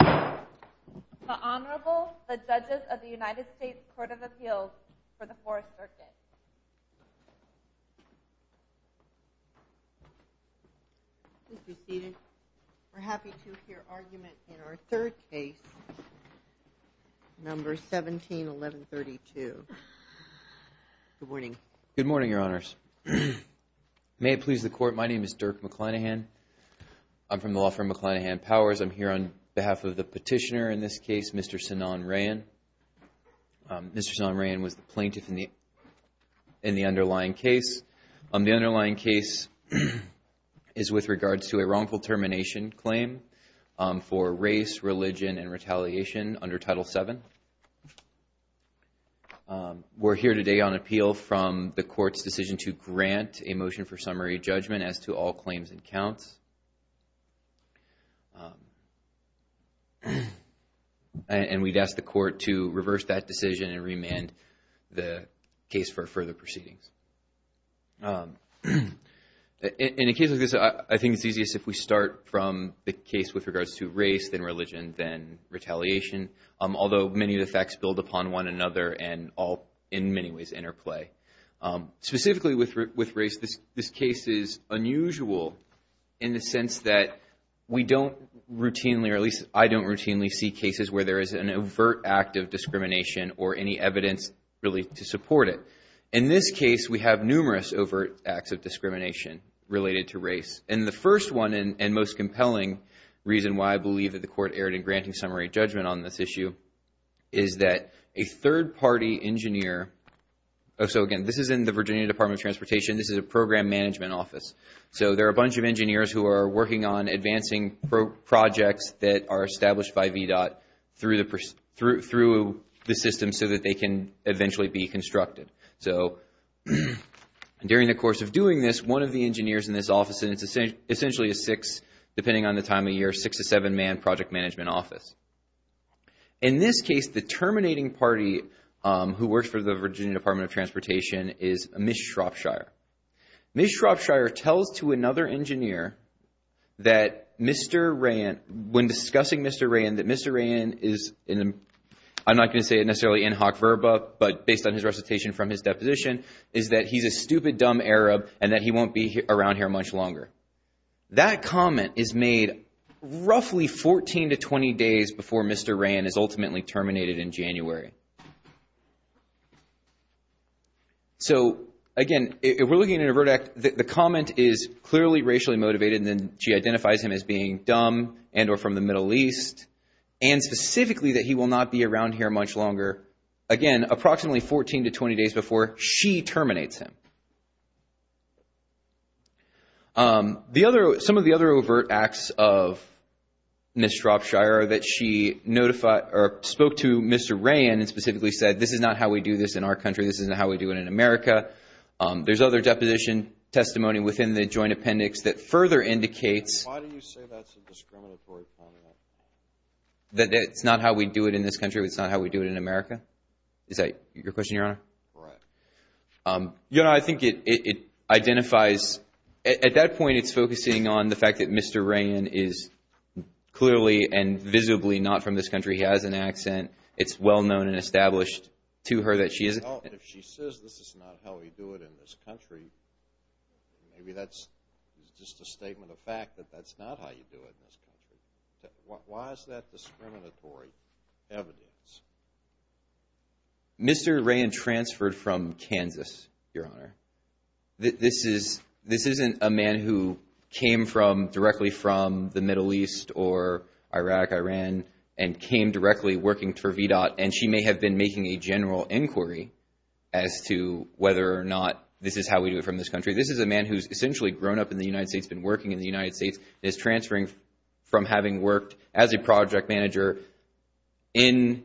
The Honorable, the Judges of the United States Court of Appeals for the 4th Circuit. Please be seated. We're happy to hear argument in our third case, number 17-1132. Good morning. Good morning, Your Honors. May it please the Court, my name is Dirk McClanahan. I'm from the law firm McClanahan Powers. I'm here on behalf of the petitioner in this case, Mr. Sanan Rayyan. Mr. Sanan Rayyan was the plaintiff in the underlying case. The underlying case is with regards to a wrongful termination claim for race, religion, and retaliation under Title VII. We're here today on appeal from the Court's decision to grant a motion for summary judgment as to all claims and counts. And we'd ask the Court to reverse that decision and remand the case for further proceedings. In a case like this, I think it's easiest if we start from the case with regards to race, then religion, then retaliation. Although many of the facts build upon one another and all, in many ways, interplay. Specifically with race, this case is unusual in the sense that we don't routinely, or at least I don't routinely, see cases where there is an overt act of discrimination or any evidence really to support it. In this case, we have numerous overt acts of discrimination related to race. And the first one, and most compelling reason why I believe that the Court erred in granting summary judgment on this issue, is that a third-party engineer... So again, this is in the Virginia Department of Transportation. This is a program management office. So there are a bunch of engineers who are working on advancing projects that are established by VDOT through the system so that they can eventually be constructed. So during the course of doing this, one of the engineers in this office, and it's essentially a six, depending on the time of year, six- to seven-man project management office. In this case, the terminating party who works for the Virginia Department of Transportation is Ms. Shropshire. Ms. Shropshire tells to another engineer that Mr. Rayen... When discussing Mr. Rayen, that Mr. Rayen is... I'm not going to say it necessarily in hoc verba, but based on his recitation from his deposition, is that he's a stupid, dumb Arab and that he won't be around here much longer. That comment is made roughly 14 to 20 days before Mr. Rayen is ultimately terminated in January. So again, if we're looking at an overt act, the comment is clearly racially motivated, and then she identifies him as being dumb and or from the Middle East, and specifically that he will not be around here much longer. Again, approximately 14 to 20 days before she terminates him. Some of the other overt acts of Ms. Shropshire that she notified or spoke to Mr. Rayen and specifically said this is not how we do this in our country, this isn't how we do it in America. There's other deposition testimony within the joint appendix that further indicates... That it's not how we do it in this country, it's not how we do it in America? Is that your question, Your Honor? Right. Your Honor, I think it identifies... At that point, it's focusing on the fact that Mr. Rayen is clearly and visibly not from this country. He has an accent. It's well known and established to her that she is... Well, if she says this is not how we do it in this country, maybe that's just a statement of fact that that's not how you do it in this country. Why is that discriminatory evidence? Mr. Rayen transferred from Kansas, Your Honor. This isn't a man who came directly from the Middle East or Iraq, Iran, and came directly working for VDOT, and she may have been making a general inquiry as to whether or not this is how we do it from this country. This is a man who's essentially grown up in the United States, been working in the United States, and is transferring from having worked as a project manager in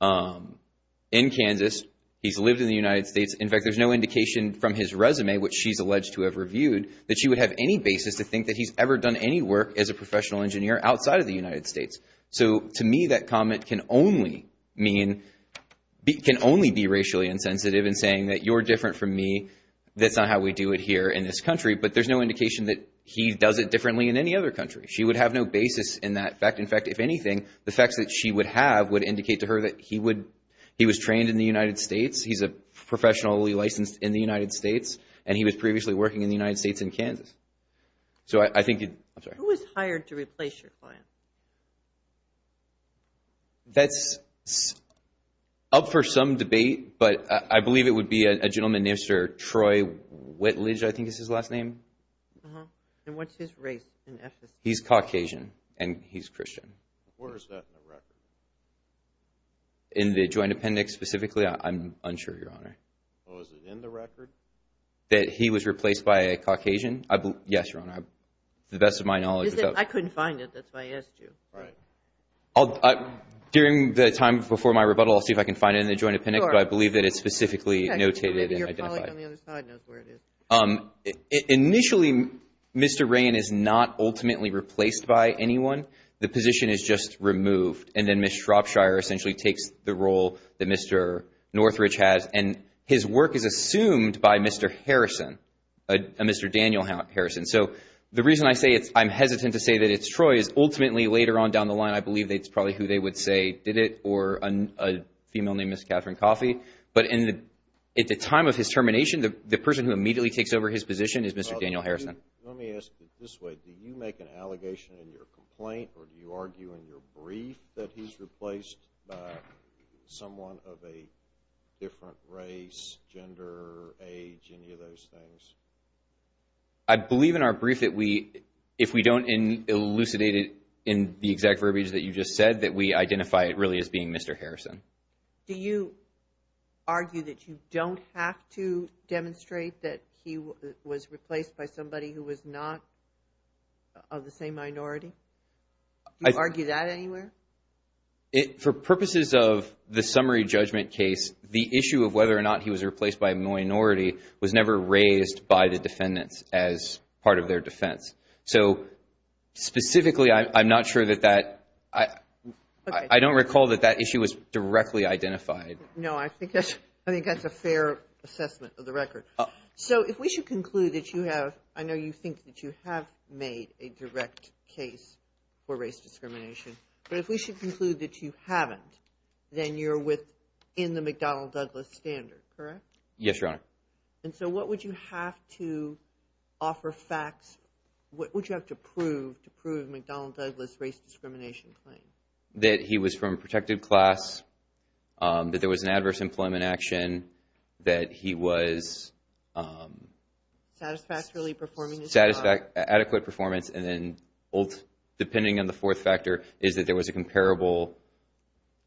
Kansas. He's lived in the United States. In fact, there's no indication from his resume, which she's alleged to have reviewed, that she would have any basis to think that he's ever done any work as a professional engineer outside of the United States. So to me, that comment can only be racially insensitive in saying that you're different from me, that's not how we do it here in this country, but there's no indication that he does it differently in any other country. She would have no basis in that fact. In fact, if anything, the facts that she would have would indicate to her that he was trained in the United States, he's professionally licensed in the United States, and he was previously working in the United States in Kansas. Who was hired to replace your client? That's up for some debate, but I believe it would be a gentleman named Sir Troy Whitledge, I think is his last name. And what's his race in Ephesus? He's Caucasian, and he's Christian. Where is that in the record? In the Joint Appendix specifically, I'm unsure, Your Honor. Oh, is it in the record? That he was replaced by a Caucasian? Yes, Your Honor. To the best of my knowledge, it's up. I couldn't find it. That's why I asked you. Right. During the time before my rebuttal, I'll see if I can find it in the Joint Appendix, but I believe that it's specifically notated and identified. Initially, Mr. Rayen is not ultimately replaced by anyone. The position is just removed, and then Ms. Shropshire essentially takes the role that Mr. Northridge has, and his work is assumed by Mr. Harrison, Mr. Daniel Harrison. So the reason I say I'm hesitant to say that it's Troy is ultimately later on down the line, I believe it's probably who they would say did it or a female named Ms. Catherine Coffey. But at the time of his termination, the person who immediately takes over his position is Mr. Daniel Harrison. Let me ask you this way. Do you make an allegation in your complaint, or do you argue in your brief that he's replaced by someone of a different race, gender, age, any of those things? I believe in our brief that if we don't elucidate it in the exact verbiage that you just said, that we identify it really as being Mr. Harrison. Do you argue that you don't have to demonstrate that he was replaced by somebody who was not of the same minority? Do you argue that anywhere? For purposes of the summary judgment case, the issue of whether or not he was replaced by a minority was never raised by the defendants as part of their defense. So specifically, I'm not sure that that, I don't recall that that issue was directly identified. No, I think that's a fair assessment of the record. So if we should conclude that you have, I know you think that you have made a direct case for race discrimination, but if we should conclude that you haven't, then you're within the McDonnell-Douglas standard, correct? Yes, Your Honor. And so what would you have to offer facts, what would you have to prove to prove McDonnell-Douglas' race discrimination claim? That he was from a protected class, that there was an adverse employment action, that he was… Satisfactorily performing his job. Adequate performance, and then, depending on the fourth factor, is that there was a comparable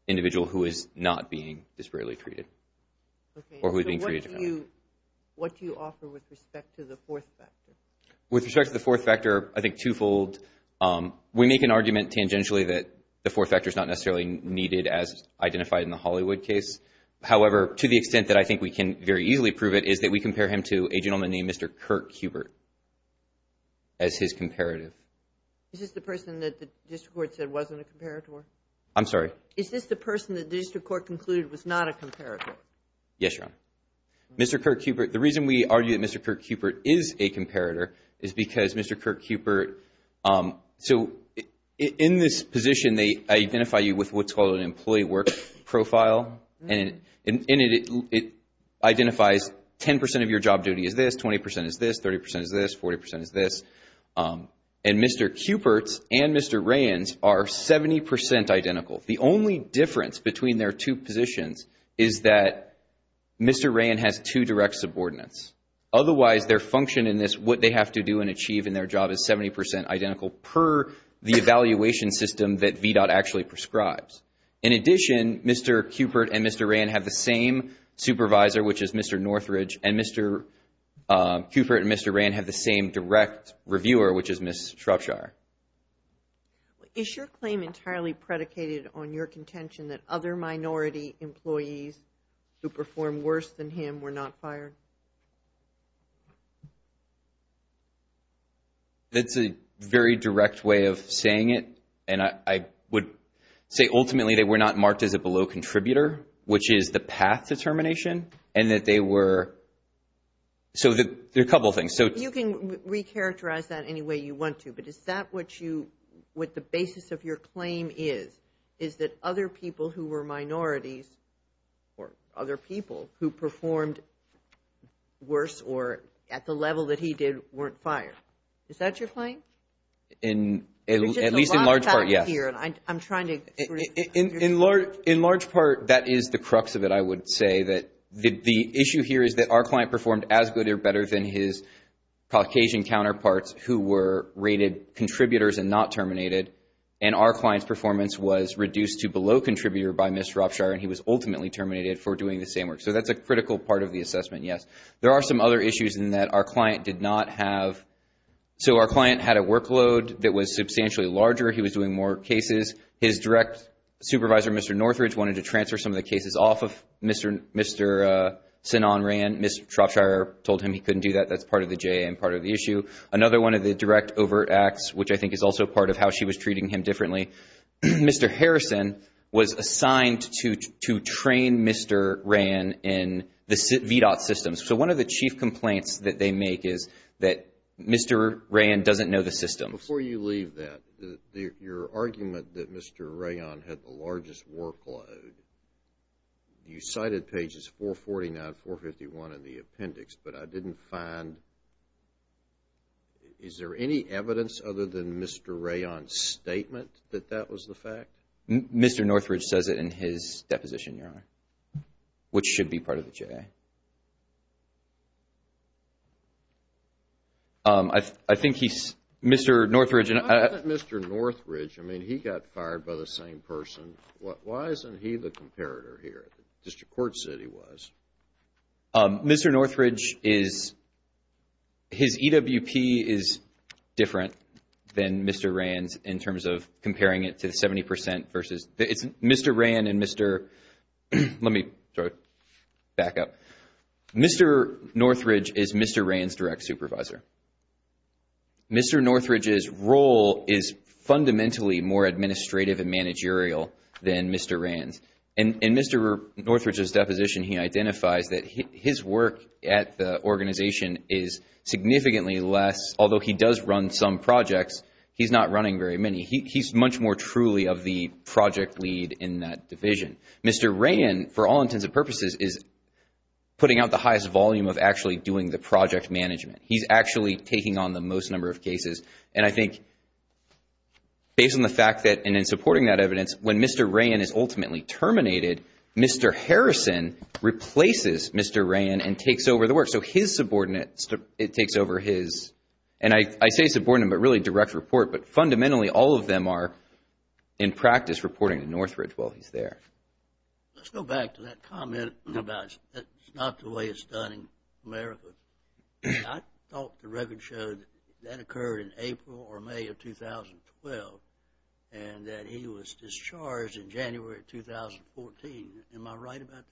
individual who is not being disparately treated or who is being treated differently. Okay, so what do you offer with respect to the fourth factor? With respect to the fourth factor, I think twofold. We make an argument tangentially that the fourth factor is not necessarily needed as identified in the Hollywood case. However, to the extent that I think we can very easily prove it, is that we compare him to a gentleman named Mr. Kirk Cupert as his comparative. Is this the person that the district court said wasn't a comparator? I'm sorry? Is this the person that the district court concluded was not a comparator? Yes, Your Honor. Mr. Kirk Cupert, the reason we argue that Mr. Kirk Cupert is a comparator is because Mr. Kirk Cupert… So, in this position, they identify you with what's called an employee work profile, and it identifies 10% of your job duty is this, 20% is this, 30% is this, 40% is this. And Mr. Cupert's and Mr. Rayen's are 70% identical. The only difference between their two positions is that Mr. Rayen has two direct subordinates. Otherwise, their function in this, what they have to do and achieve in their job is 70% identical per the evaluation system that VDOT actually prescribes. In addition, Mr. Cupert and Mr. Rayen have the same supervisor, which is Mr. Northridge, and Mr. Cupert and Mr. Rayen have the same direct reviewer, which is Ms. Shrupshire. Is your claim entirely predicated on your contention that other minority employees who perform worse than him were not fired? That's a very direct way of saying it, and I would say, ultimately, they were not marked as a below contributor, which is the path to termination, and that they were… So, there are a couple of things. You can recharacterize that any way you want to, but is that what the basis of your claim is, is that other people who were minorities or other people who performed worse or at the level that he did weren't fired? Is that your claim? At least in large part, yes. I'm trying to… In large part, that is the crux of it, I would say, that the issue here is that our client performed as good or better than his Caucasian counterparts who were rated contributors and not terminated, and our client's performance was reduced to below contributor by Ms. Shrupshire, and he was ultimately terminated for doing the same work. So, that's a critical part of the assessment, yes. There are some other issues in that our client did not have… So, our client had a workload that was substantially larger. He was doing more cases. His direct supervisor, Mr. Northridge, wanted to transfer some of the cases off of Mr. Sinan Ran. Ms. Shrupshire told him he couldn't do that. That's part of the JA and part of the issue. Another one of the direct overt acts, which I think is also part of how she was treating him differently, Mr. Harrison was assigned to train Mr. Ran in the VDOT systems. So, one of the chief complaints that they make is that Mr. Ran doesn't know the systems. Before you leave that, your argument that Mr. Ran had the largest workload, you cited pages 449, 451 in the appendix, but I didn't find… Is there any evidence other than Mr. Ran's statement that that was the fact? Mr. Northridge says it in his deposition, Your Honor, which should be part of the JA. I think he's… Mr. Northridge… Mr. Northridge, I mean, he got fired by the same person. Why isn't he the comparator here? District Court said he was. Mr. Northridge is… His EWP is different than Mr. Ran's in terms of comparing it to the 70% versus… Mr. Ran and Mr.… Let me back up. Mr. Northridge is Mr. Ran's direct supervisor. Mr. Northridge's role is fundamentally more administrative and managerial than Mr. Ran's. In Mr. Northridge's deposition, he identifies that his work at the organization is significantly less, although he does run some projects, he's not running very many. He's much more truly of the project lead in that division. Mr. Ran, for all intents and purposes, is putting out the highest volume of actually doing the project management. He's actually taking on the most number of cases. And I think, based on the fact that, and in supporting that evidence, when Mr. Ran is ultimately terminated, Mr. Harrison replaces Mr. Ran and takes over the work. So his subordinates, it takes over his… And I say subordinate, but really direct report, but fundamentally all of them are in practice reporting to Northridge while he's there. Let's go back to that comment about it's not the way it's done in America. I thought the record showed that that occurred in April or May of 2012 and that he was discharged in January of 2014. Am I right about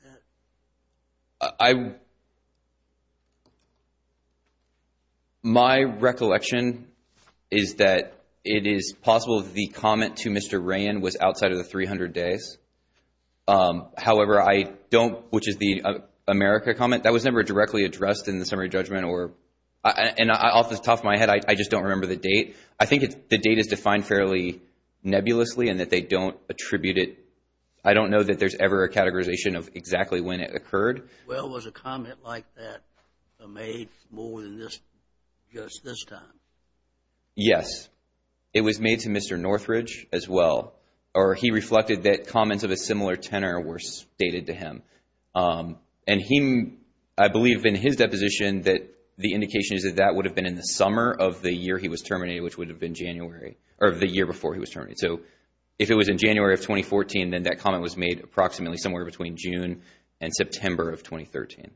that? My recollection is that it is possible the comment to Mr. Ran was outside of the 300 days. However, I don't, which is the America comment, that was never directly addressed in the summary judgment. And off the top of my head, I just don't remember the date. I think the date is defined fairly nebulously and that they don't attribute it. I don't know that there's ever a categorization of exactly when it occurred. Well, was a comment like that made more than just this time? Yes. It was made to Mr. Northridge as well, or he reflected that comments of a similar tenor were stated to him. And I believe in his deposition that the indication is that that would have been in the summer of the year he was terminated, which would have been January, or the year before he was terminated. So if it was in January of 2014, then that comment was made approximately somewhere between June and September of 2013.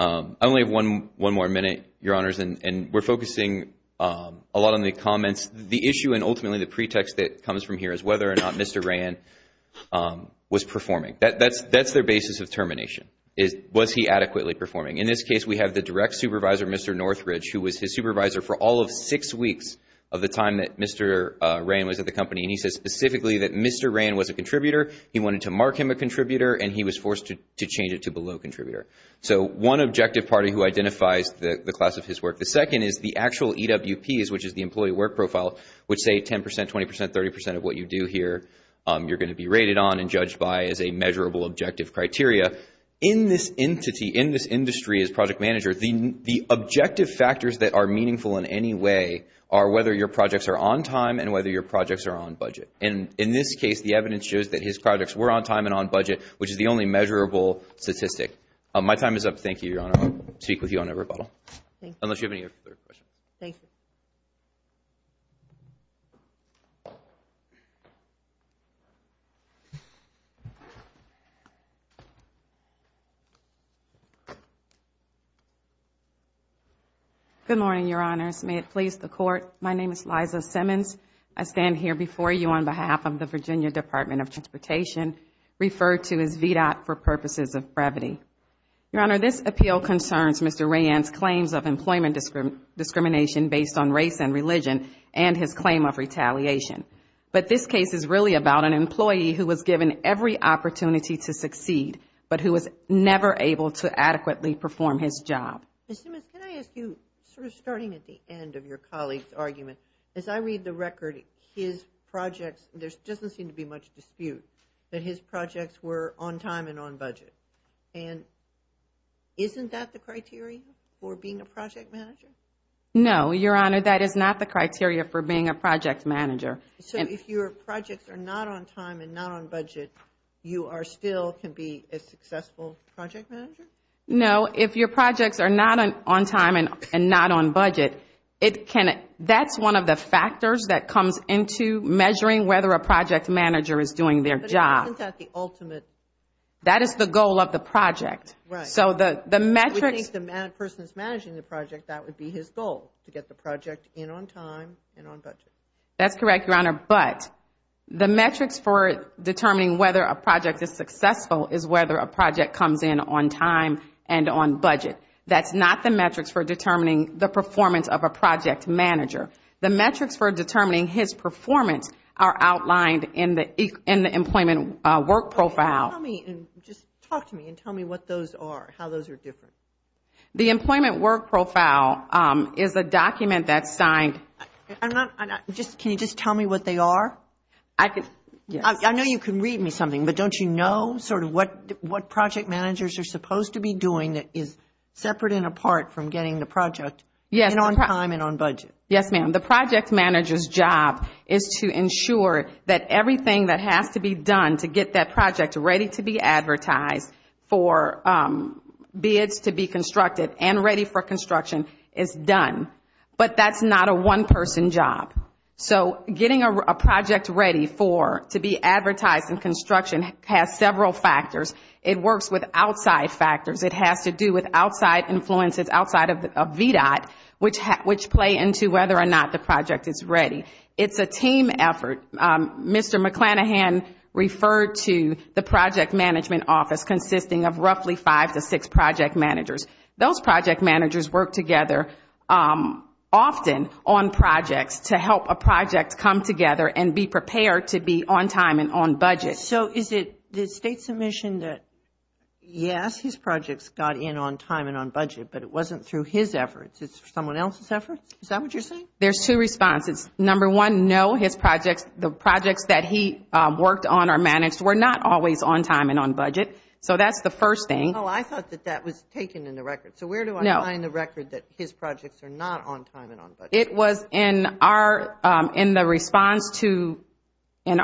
I only have one more minute, Your Honors, and we're focusing a lot on the comments. The issue and ultimately the pretext that comes from here is whether or not Mr. Rann was performing. That's their basis of termination. Was he adequately performing? In this case, we have the direct supervisor, Mr. Northridge, who was his supervisor for all of six weeks of the time that Mr. Rann was at the company. And he said specifically that Mr. Rann was a contributor. He wanted to mark him a contributor, and he was forced to change it to below contributor. So one objective party who identifies the class of his work. The second is the actual EWPs, which is the employee work profile, which say 10 percent, 20 percent, 30 percent of what you do here, you're going to be rated on and judged by as a measurable objective criteria. In this entity, in this industry as project manager, the objective factors that are meaningful in any way are whether your projects are on time and whether your projects are on budget. And in this case, the evidence shows that his projects were on time and on budget, which is the only measurable statistic. My time is up. Thank you, Your Honor. I'll speak with you on a rebuttal. Thank you. Unless you have any other questions. Thank you. Good morning, Your Honors. May it please the Court, my name is Liza Simmons. I stand here before you on behalf of the Virginia Department of Transportation, referred to as VDOT for purposes of brevity. Your Honor, this appeal concerns Mr. Rayan's claims of employment discrimination based on race and religion and his claim of retaliation. But this case is really about an employee who was given every opportunity to succeed but who was never able to adequately perform his job. Ms. Simmons, can I ask you, sort of starting at the end of your colleague's argument, as I read the record, his projects, there doesn't seem to be much dispute, that his projects were on time and on budget. And isn't that the criteria for being a project manager? No, Your Honor, that is not the criteria for being a project manager. So if your projects are not on time and not on budget, you still can be a successful project manager? No, if your projects are not on time and not on budget, that's one of the factors that comes into measuring whether a project manager is doing their job. But isn't that the ultimate? That is the goal of the project. If the person is managing the project, that would be his goal, to get the project in on time and on budget. That's correct, Your Honor, but the metrics for determining whether a project is successful is whether a project comes in on time and on budget. That's not the metrics for determining the performance of a project manager. The metrics for determining his performance are outlined in the employment work profile. Just talk to me and tell me what those are, how those are different. The employment work profile is a document that's signed. Can you just tell me what they are? I know you can read me something, but don't you know sort of what project managers are supposed to be doing that is separate and apart from getting the project in on time and on budget? Yes, ma'am. The project manager's job is to ensure that everything that has to be done to get that project ready to be advertised for bids to be constructed and ready for construction is done. But that's not a one-person job. So getting a project ready to be advertised in construction has several factors. It works with outside factors. It has to do with outside influences outside of VDOT, which play into whether or not the project is ready. It's a team effort. Mr. McClanahan referred to the project management office consisting of roughly five to six project managers. Those project managers work together often on projects to help a project come together and be prepared to be on time and on budget. So is it the state submission that, yes, his projects got in on time and on budget, but it wasn't through his efforts, it's someone else's efforts? Is that what you're saying? There's two responses. Number one, no, his projects, the projects that he worked on or managed were not always on time and on budget. So that's the first thing. Oh, I thought that that was taken in the record. It was in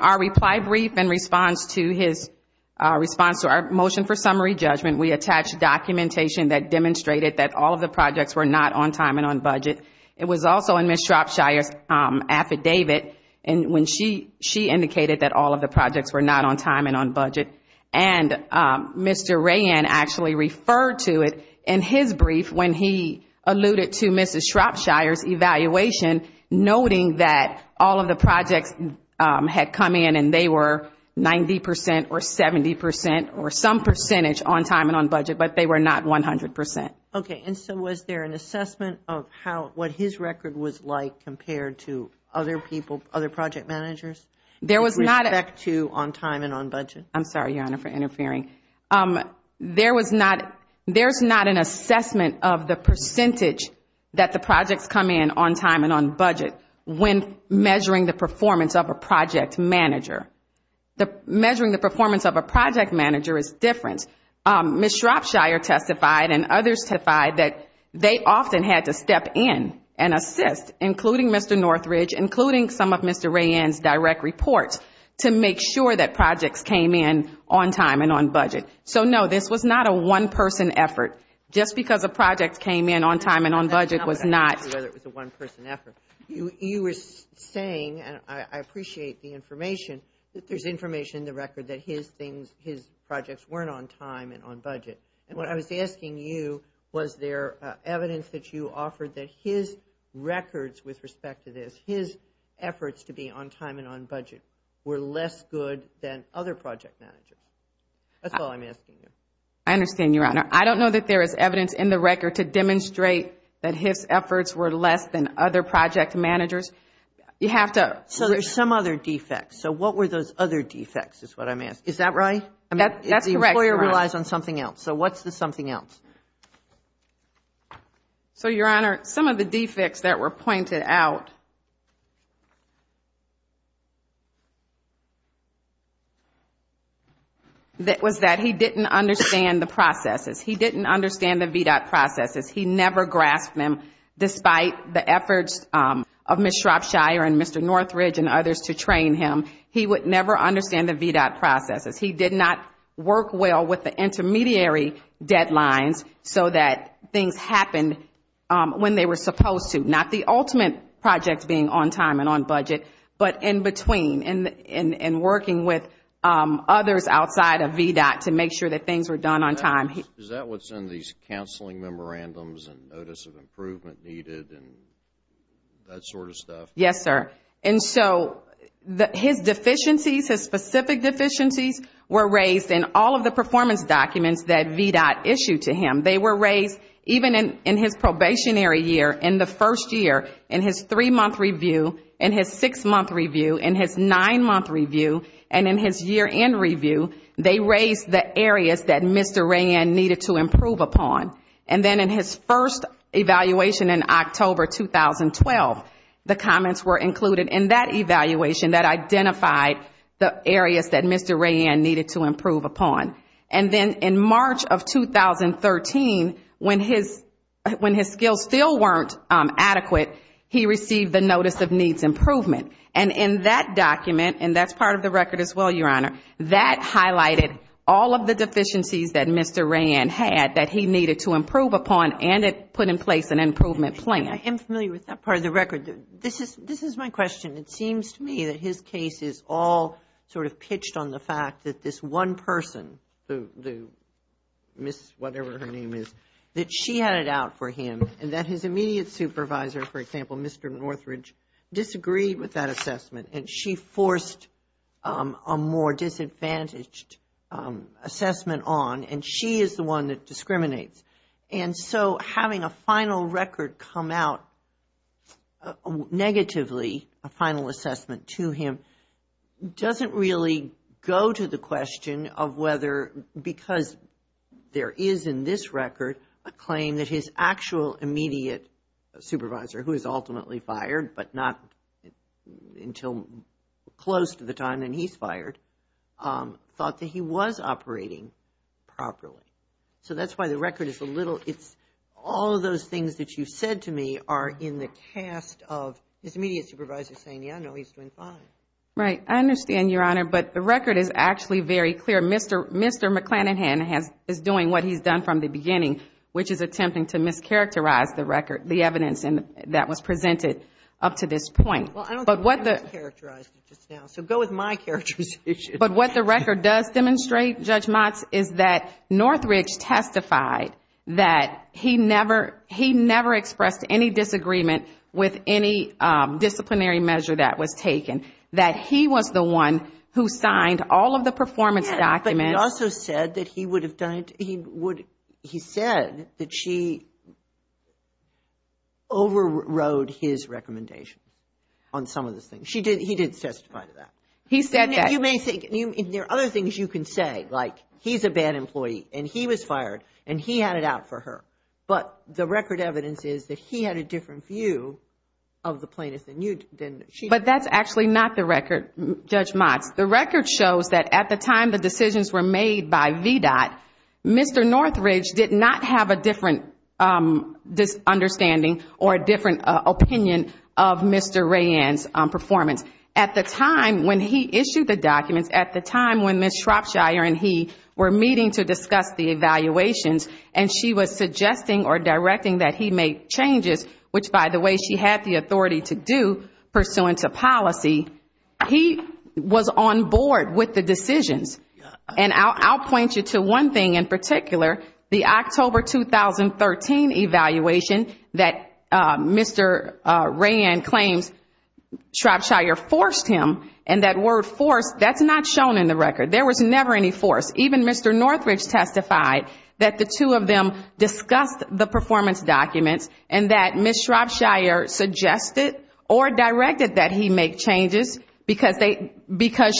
our reply brief in response to our motion for summary judgment. We attached documentation that demonstrated that all of the projects were not on time and on budget. It was also in Ms. Shropshire's affidavit when she indicated that all of the projects were not on time and on budget. And Mr. Rayan actually referred to it in his brief when he alluded to Ms. Shropshire's evaluation, noting that all of the projects had come in and they were 90 percent or 70 percent or some percentage on time and on budget, but they were not 100 percent. Okay, and so was there an assessment of what his record was like compared to other people, other project managers with respect to on time and on budget? I'm sorry, Your Honor, for interfering. There's not an assessment of the percentage that the projects come in on time and on budget when measuring the performance of a project manager. Measuring the performance of a project manager is different. Ms. Shropshire testified and others testified that they often had to step in and assist, including Mr. Northridge, including some of Mr. Rayan's direct reports, to make sure that projects came in on time and on budget. So, no, this was not a one-person effort. Just because a project came in on time and on budget was not. I'm not sure whether it was a one-person effort. You were saying, and I appreciate the information, that there's information in the record that his things, his projects weren't on time and on budget. And what I was asking you, was there evidence that you offered that his records with respect to this, his efforts to be on time and on budget were less good than other project managers? That's all I'm asking you. I understand, Your Honor. I don't know that there is evidence in the record to demonstrate that his efforts were less than other project managers. You have to. So there's some other defects. So what were those other defects is what I'm asking. Is that right? That's correct, Your Honor. The lawyer relies on something else. So what's the something else? So, Your Honor, some of the defects that were pointed out was that he didn't understand the processes. He didn't understand the VDOT processes. He never grasped them. Despite the efforts of Ms. Shropshire and Mr. Northridge and others to train him, he would never understand the VDOT processes. He did not work well with the intermediary deadlines so that things happened when they were supposed to, not the ultimate project being on time and on budget, but in between and working with others outside of VDOT to make sure that things were done on time. Is that what's in these counseling memorandums and notice of improvement needed and that sort of stuff? Yes, sir. And so his deficiencies, his specific deficiencies, were raised in all of the performance documents that VDOT issued to him. They were raised even in his probationary year, in the first year, in his three-month review, in his six-month review, in his nine-month review, and in his year-end review. They raised the areas that Mr. Rayen needed to improve upon. And then in his first evaluation in October 2012, the comments were included in that evaluation that identified the areas that Mr. Rayen needed to improve upon. And then in March of 2013, when his skills still weren't adequate, he received the notice of needs improvement. And in that document, and that's part of the record as well, Your Honor, that highlighted all of the deficiencies that Mr. Rayen had that he needed to improve upon and it put in place an improvement plan. I am familiar with that part of the record. This is my question. It seems to me that his case is all sort of pitched on the fact that this one person, Ms. whatever her name is, that she had it out for him, and that his immediate supervisor, for example, Mr. Northridge, disagreed with that assessment and she forced a more disadvantaged assessment on, and she is the one that discriminates. And so having a final record come out negatively, a final assessment to him, doesn't really go to the question of whether because there is in this record a claim that his actual immediate supervisor, who is ultimately fired but not until close to the time that he's fired, thought that he was operating properly. So that's why the record is a little, it's all of those things that you said to me are in the cast of his immediate supervisor saying, yeah, no, he's doing fine. Right. I understand, Your Honor, but the record is actually very clear. Mr. McClanahan is doing what he's done from the beginning, which is attempting to mischaracterize the record, the evidence that was presented up to this point. Well, I don't think I mischaracterized it just now, so go with my characterization. But what the record does demonstrate, Judge Motz, is that Northridge testified that he never expressed any disagreement with any disciplinary measure that was taken, that he was the one who signed all of the performance documents. He also said that he said that she overrode his recommendations on some of the things. He didn't testify to that. He said that. There are other things you can say, like he's a bad employee and he was fired and he had it out for her. But the record evidence is that he had a different view of the plaintiff than you did. But that's actually not the record, Judge Motz. The record shows that at the time the decisions were made by VDOT, Mr. Northridge did not have a different understanding or a different opinion of Mr. Rayanne's performance. At the time when he issued the documents, at the time when Ms. Shropshire and he were meeting to discuss the evaluations and she was suggesting or directing that he make changes, which, by the way, she had the authority to do, pursuant to policy, he was on board with the decisions. And I'll point you to one thing in particular, the October 2013 evaluation that Mr. Rayanne claims Shropshire forced him. And that word forced, that's not shown in the record. There was never any force. Even Mr. Northridge testified that the two of them discussed the performance documents and that Ms. Shropshire suggested or directed that he make changes because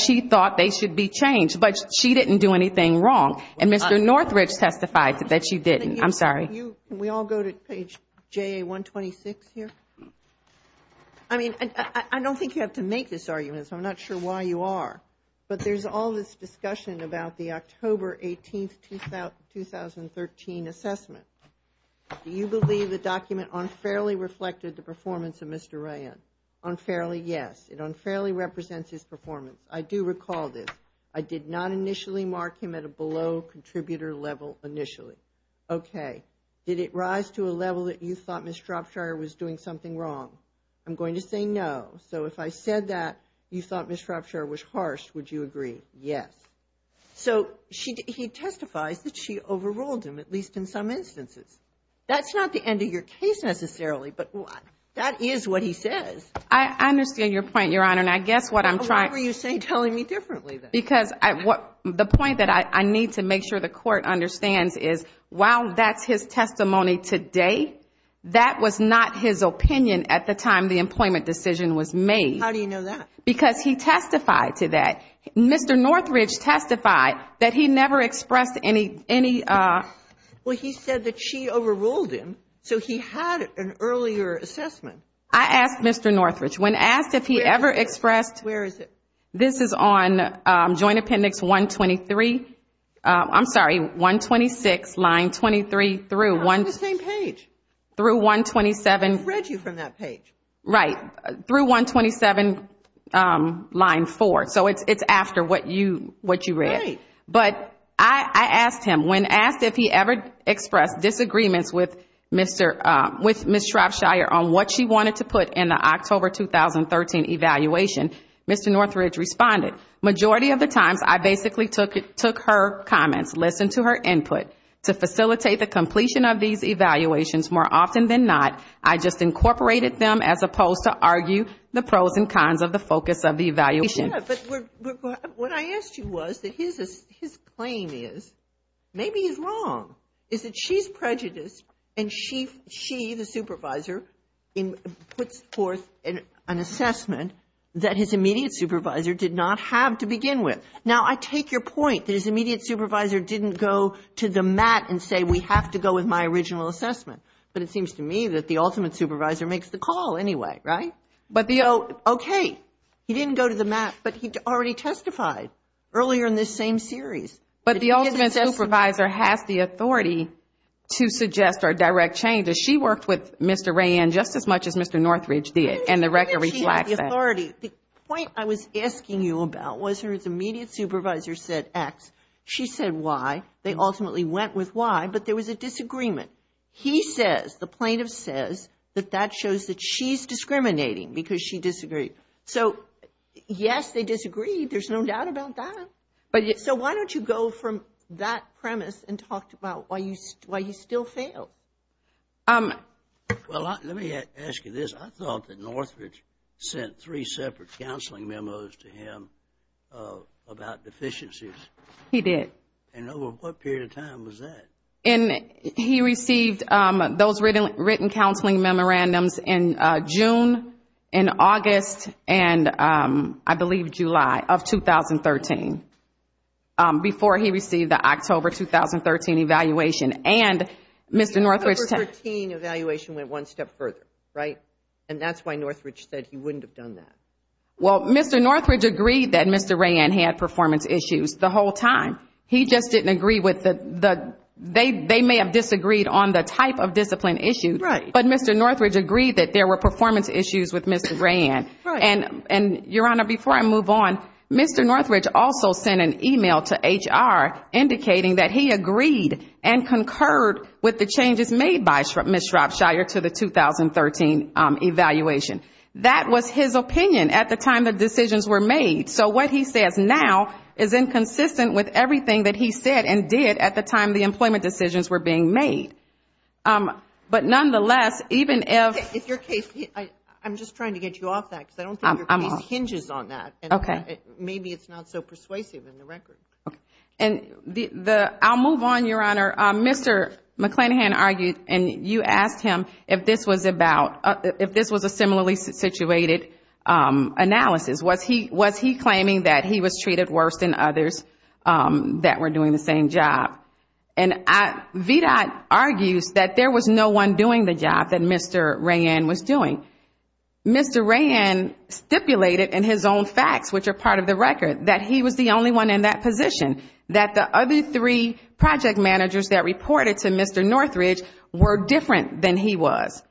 she thought they should be changed. But she didn't do anything wrong. And Mr. Northridge testified that she didn't. I'm sorry. Can we all go to page JA-126 here? I mean, I don't think you have to make this argument, so I'm not sure why you are. But there's all this discussion about the October 18, 2013 assessment. Do you believe the document unfairly reflected the performance of Mr. Rayanne? Unfairly, yes. It unfairly represents his performance. I do recall this. I did not initially mark him at a below contributor level initially. Okay. Did it rise to a level that you thought Ms. Shropshire was doing something wrong? I'm going to say no. So if I said that you thought Ms. Shropshire was harsh, would you agree? Yes. So he testifies that she overruled him, at least in some instances. That's not the end of your case necessarily, but that is what he says. I understand your point, Your Honor. And I guess what I'm trying to say is the point that I need to make sure the court understands is while that's his testimony today, that was not his opinion at the time the employment decision was made. How do you know that? Because he testified to that. Mr. Northridge testified that he never expressed any ---- Well, he said that she overruled him, so he had an earlier assessment. I asked Mr. Northridge. When asked if he ever expressed ---- Where is it? This is on Joint Appendix 123. I'm sorry, 126, line 23 through 127. They're on the same page. I read you from that page. Right. Through 127, line 4. So it's after what you read. Right. But I asked him, when asked if he ever expressed disagreements with Ms. Shropshire on what she wanted to put in the October 2013 evaluation, Mr. Northridge responded, majority of the times I basically took her comments, listened to her input. To facilitate the completion of these evaluations, more often than not, I just incorporated them as opposed to argue the pros and cons of the focus of the evaluation. But what I asked you was that his claim is, maybe he's wrong, is that she's prejudiced and she, the supervisor, puts forth an assessment that his immediate supervisor did not have to begin with. Now, I take your point that his immediate supervisor didn't go to the mat and say, we have to go with my original assessment. But it seems to me that the ultimate supervisor makes the call anyway, right? Okay. He didn't go to the mat, but he already testified earlier in this same series. But the ultimate supervisor has the authority to suggest or direct changes. She worked with Mr. Rayen just as much as Mr. Northridge did, and the record reflects that. The point I was asking you about was her immediate supervisor said X. She said Y. They ultimately went with Y, but there was a disagreement. He says, the plaintiff says, that that shows that she's discriminating because she disagreed. So, yes, they disagreed. There's no doubt about that. So why don't you go from that premise and talk about why you still failed? Well, let me ask you this. I thought that Northridge sent three separate counseling memos to him about deficiencies. He did. And over what period of time was that? He received those written counseling memorandums in June, in August, and, I believe, July of 2013, before he received the October 2013 evaluation. And Mr. Northridge- The October 13 evaluation went one step further, right? And that's why Northridge said he wouldn't have done that. Well, Mr. Northridge agreed that Mr. Rayen had performance issues the whole time. He just didn't agree with the-they may have disagreed on the type of discipline issue. Right. But Mr. Northridge agreed that there were performance issues with Mr. Rayen. Right. And, Your Honor, before I move on, Mr. Northridge also sent an email to HR indicating that he agreed and concurred with the changes made by Ms. Shropshire to the 2013 evaluation. That was his opinion at the time the decisions were made. So what he says now is inconsistent with everything that he said and did at the time the employment decisions were being made. But nonetheless, even if- If your case-I'm just trying to get you off that because I don't think your case hinges on that. Okay. Maybe it's not so persuasive in the record. Okay. And the-I'll move on, Your Honor. Mr. McClanahan argued, and you asked him, if this was about-if this was a similarly situated analysis. Was he claiming that he was treated worse than others that were doing the same job? And VDOT argues that there was no one doing the job that Mr. Rayen was doing. Mr. Rayen stipulated in his own facts, which are part of the record, that he was the only one in that position, that the other three project managers that reported to Mr. Northridge were different than he was.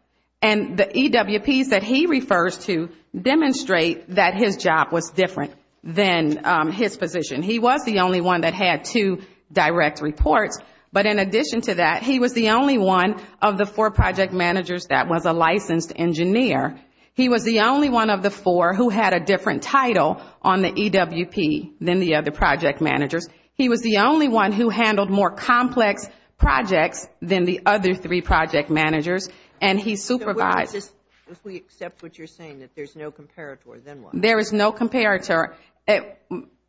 And the EWPs that he refers to demonstrate that his job was different than his position. He was the only one that had two direct reports. But in addition to that, he was the only one of the four project managers that was a licensed engineer. He was the only one of the four who had a different title on the EWP than the other project managers. He was the only one who handled more complex projects than the other three project managers. And he supervised. If we accept what you're saying, that there's no comparator, then what? There is no comparator.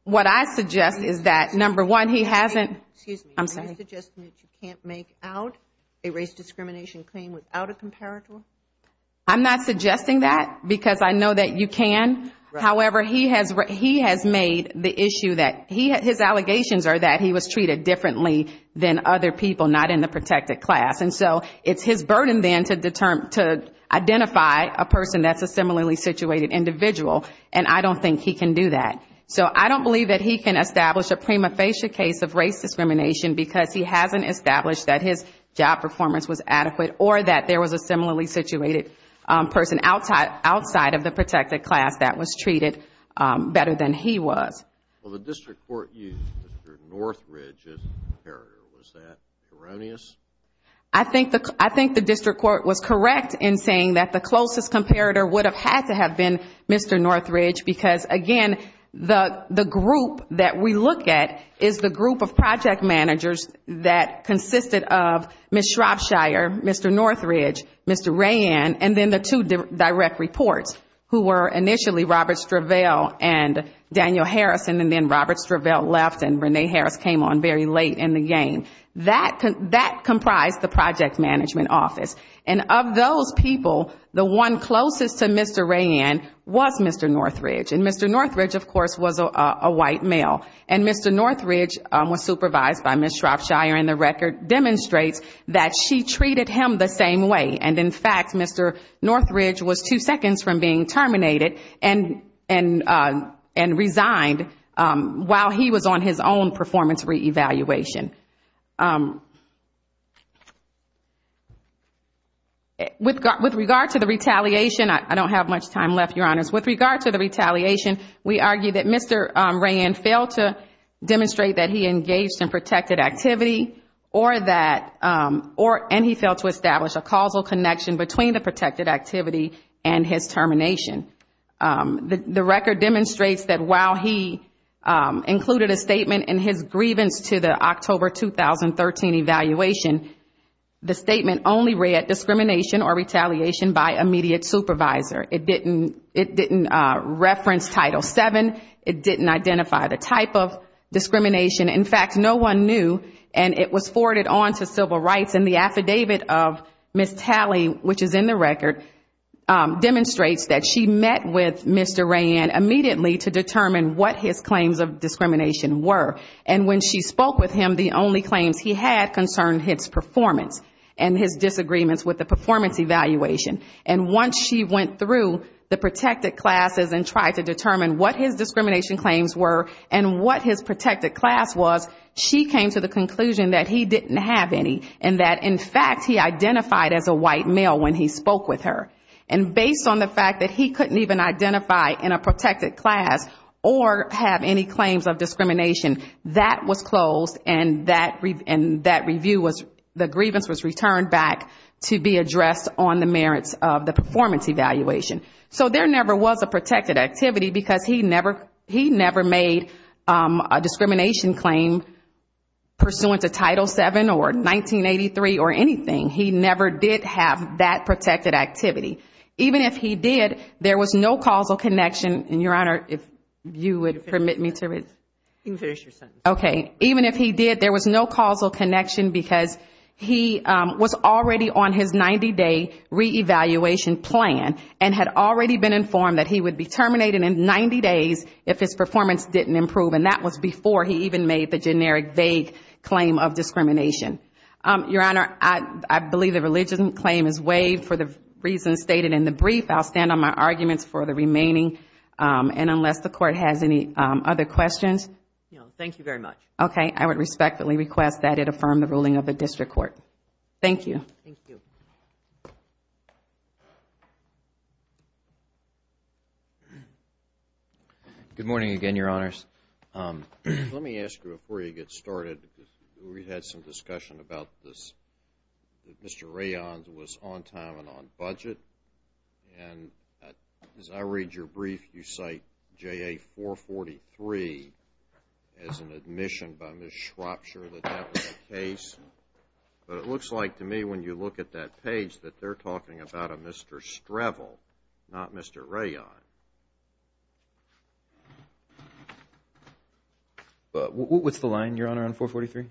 What I suggest is that, number one, he hasn't- Excuse me. I'm sorry. Are you suggesting that you can't make out a race discrimination claim without a comparator? I'm not suggesting that, because I know that you can. However, he has made the issue that his allegations are that he was treated differently than other people, not in the protected class. And so it's his burden then to identify a person that's a similarly situated individual. And I don't think he can do that. So I don't believe that he can establish a prima facie case of race discrimination, because he hasn't established that his job performance was adequate, or that there was a similarly situated person outside of the protected class that was treated better than he was. Well, the district court used Mr. Northridge as a comparator. Was that erroneous? I think the district court was correct in saying that the closest comparator would have had to have been Mr. Northridge, because, again, the group that we look at is the group of project managers that consisted of Ms. Shropshire, Mr. Northridge, Mr. Rayan, and then the two direct reports, who were initially Robert Stravell and Daniel Harrison, and then Robert Stravell left and Renee Harris came on very late in the game. That comprised the project management office. And of those people, the one closest to Mr. Rayan was Mr. Northridge. And Mr. Northridge, of course, was a white male. And Mr. Northridge was supervised by Ms. Shropshire, and the record demonstrates that she treated him the same way. And, in fact, Mr. Northridge was two seconds from being terminated and resigned while he was on his own performance reevaluation. With regard to the retaliation, I don't have much time left, Your Honors. With regard to the retaliation, we argue that Mr. Rayan failed to demonstrate that he engaged in protected activity, and he failed to establish a causal connection between the protected activity and his termination. The record demonstrates that while he included a statement in his grievance to the October 2013 evaluation, the statement only read, discrimination or retaliation by immediate supervisor. It didn't reference Title VII. It didn't identify the type of discrimination. In fact, no one knew, and it was forwarded on to Civil Rights, and the affidavit of Ms. Talley, which is in the record, demonstrates that she met with Mr. Rayan immediately to determine what his claims of discrimination were. And when she spoke with him, the only claims he had concerned his performance and his disagreements with the performance evaluation. And once she went through the protected classes and tried to determine what his discrimination claims were, and what his protected class was, she came to the conclusion that he didn't have any, and that, in fact, he identified as a white male when he spoke with her. And based on the fact that he couldn't even identify in a protected class or have any claims of discrimination, that was closed, and that review was, the grievance was returned back to be addressed on the merits of the review. The merits of the performance evaluation. So there never was a protected activity, because he never made a discrimination claim pursuant to Title VII or 1983 or anything. He never did have that protected activity. Even if he did, there was no causal connection, and, Your Honor, if you would permit me to read. Okay. Even if he did, there was no causal connection, because he was already on his 90-day reevaluation plan, and had already been informed that he would be terminated in 90 days if his performance didn't improve. And that was before he even made the generic, vague claim of discrimination. Your Honor, I believe the religious claim is waived for the reasons stated in the brief. I'll stand on my arguments for the remaining, and unless the Court has any other questions. No, thank you very much. Okay, I would respectfully request that it affirm the ruling of the District Court. Thank you. Good morning again, Your Honors. Let me ask you before you get started, because we've had some discussion about this, that Mr. Rayon was on time and on budget. And as I read your brief, you cite JA-443 as an admission by Ms. Shropshire that that was the case. But it looks like to me when you look at that page that they're talking about a Mr. Strevel, not Mr. Rayon. What's the line, Your Honor, on 443?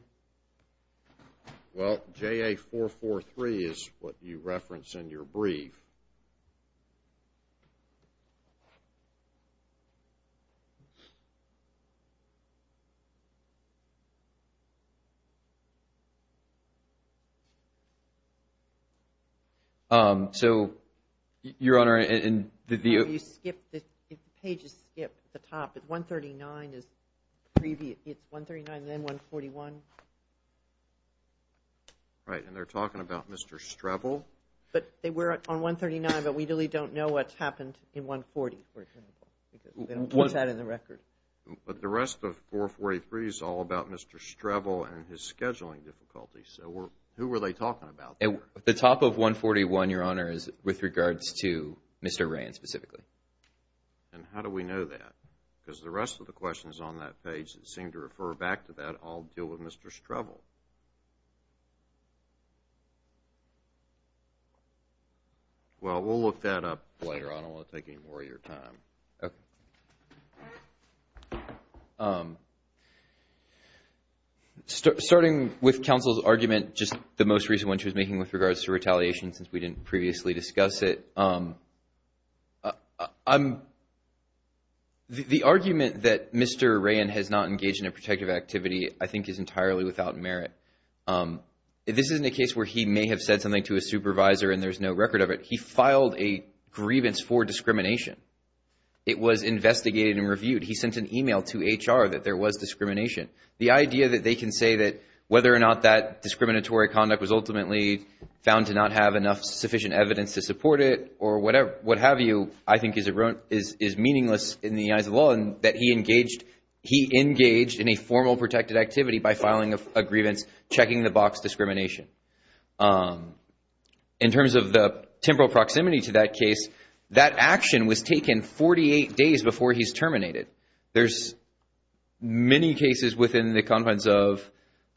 Well, JA-443 is what you reference in your brief. So, Your Honor, the page is skipped at the top. It's 139, then 141. Right, and they're talking about Mr. Strevel? No, but they were on 139, but we really don't know what's happened in 140, for example. We don't put that in the record. But the rest of 443 is all about Mr. Strevel and his scheduling difficulties. The top of 141, Your Honor, is with regards to Mr. Rayon specifically. And how do we know that? Because the rest of the questions on that page that seem to refer back to that all deal with Mr. Strevel. Well, we'll look that up later on. I don't want to take any more of your time. Okay. Starting with counsel's argument, just the most recent one she was making with regards to retaliation, since we didn't previously discuss it. The argument that Mr. Rayon has not engaged in a protective activity I think is entirely without merit. This isn't a case where he may have said something to a supervisor and there's no record of it. He filed a grievance for discrimination. It was investigated and reviewed. He sent an email to HR that there was discrimination. The idea that they can say that whether or not that I think is meaningless in the eyes of law and that he engaged in a formal protected activity by filing a grievance, checking the box, discrimination. In terms of the temporal proximity to that case, that action was taken 48 days before he's terminated. There's many cases within the confines of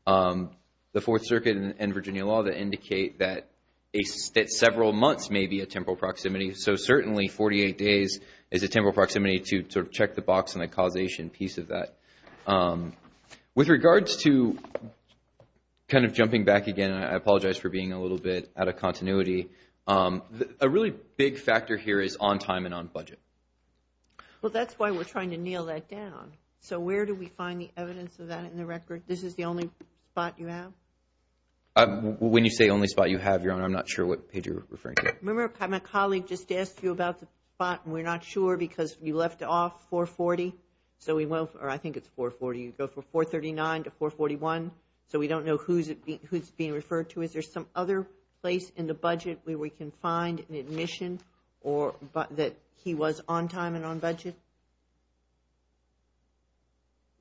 the Fourth Circuit and Virginia law that indicate that several months may be a temporal proximity. Certainly, 48 days is a temporal proximity to check the box and a causation piece of that. With regards to, jumping back again, I apologize for being a little bit out of continuity, a really big factor here is on time and on budget. That's why we're trying to nail that down. So where do we find the evidence of that in the record? This is the only spot you have? When you say only spot you have, Your Honor, I'm not sure what page you're referring to. My colleague just asked you about the spot and we're not sure because you left off 440. I think it's 440. You go from 439 to 441. So we don't know who's being referred to. Is there some other place in the budget where we can find an admission that he was on time and on budget?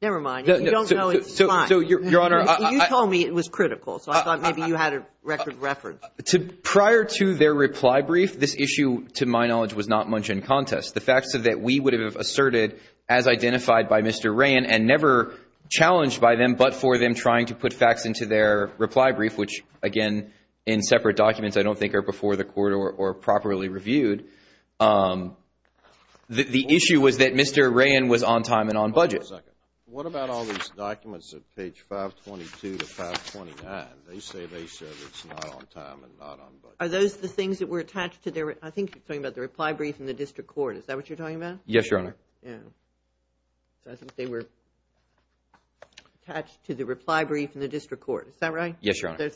Never mind. You don't know his spot. You told me it was critical, so I thought maybe you had a record reference. Prior to their reply brief, this issue, to my knowledge, was not much in contest. The facts that we would have asserted as identified by Mr. Ray and never challenged by them, but for them trying to put facts into their reply brief, which, again, in separate documents I don't think are before the court or properly reviewed. The issue was that Mr. Rayen was on time and on budget. What about all these documents at page 522 to 529? Are those the things that were attached to their reply brief in the district court? Yes, Your Honor. So I think they were attached to the reply brief in the district court. Is that right? Yes, Your Honor.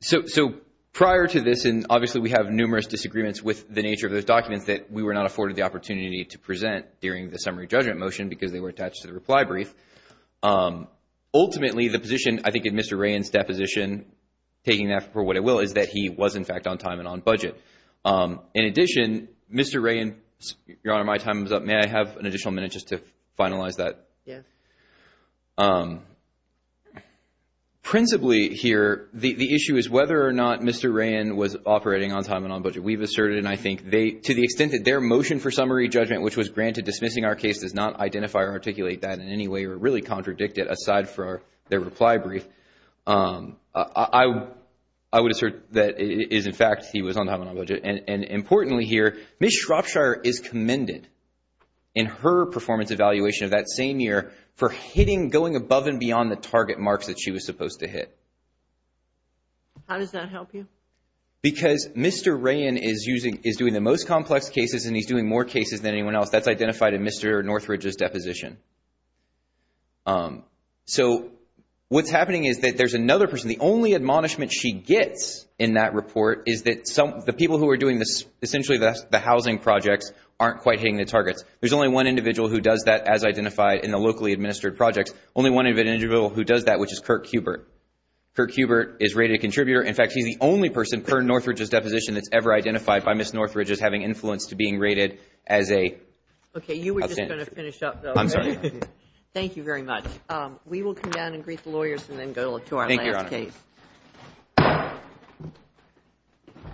So prior to this, and obviously we have numerous disagreements with the nature of those documents that we were not afforded the opportunity to present during the summary judgment motion because they were attached to the reply brief. Ultimately, the position, I think in Mr. Rayen's deposition, taking that for what it will, is that he was, in fact, on time and on budget. In addition, Mr. Rayen, Your Honor, my time is up. May I have an additional minute just to finalize that? Yes. Principally here, the issue is whether or not Mr. Rayen was operating on time and on budget. We've asserted, and I think to the extent that their motion for summary judgment, which was granted dismissing our case, does not identify or articulate that in any way or really contradict it aside for their reply brief. I would assert that it is, in fact, he was on time and on budget. And importantly here, Ms. Shropshire is commended in her performance evaluation of that same year for hitting, going above and beyond the target marks that she was supposed to hit. How does that help you? Because Mr. Rayen is doing the most complex cases and he's doing more cases than anyone else. That's identified in Mr. Northridge's deposition. So what's happening is that there's another person. The only admonishment she gets in that report is that the people who are doing essentially the housing projects aren't quite hitting the targets. There's only one individual who does that as identified in the locally administered projects, only one individual who does that, which is Kirk Hubert. Kirk Hubert is rated contributor. In fact, he's the only person, per Northridge's deposition, that's ever identified by Ms. Northridge as having influence to being rated as a. Okay, you were just going to finish up though. I'm sorry. Thank you very much. We will come down and greet the lawyers and then go to our last case. Thank you, Your Honor.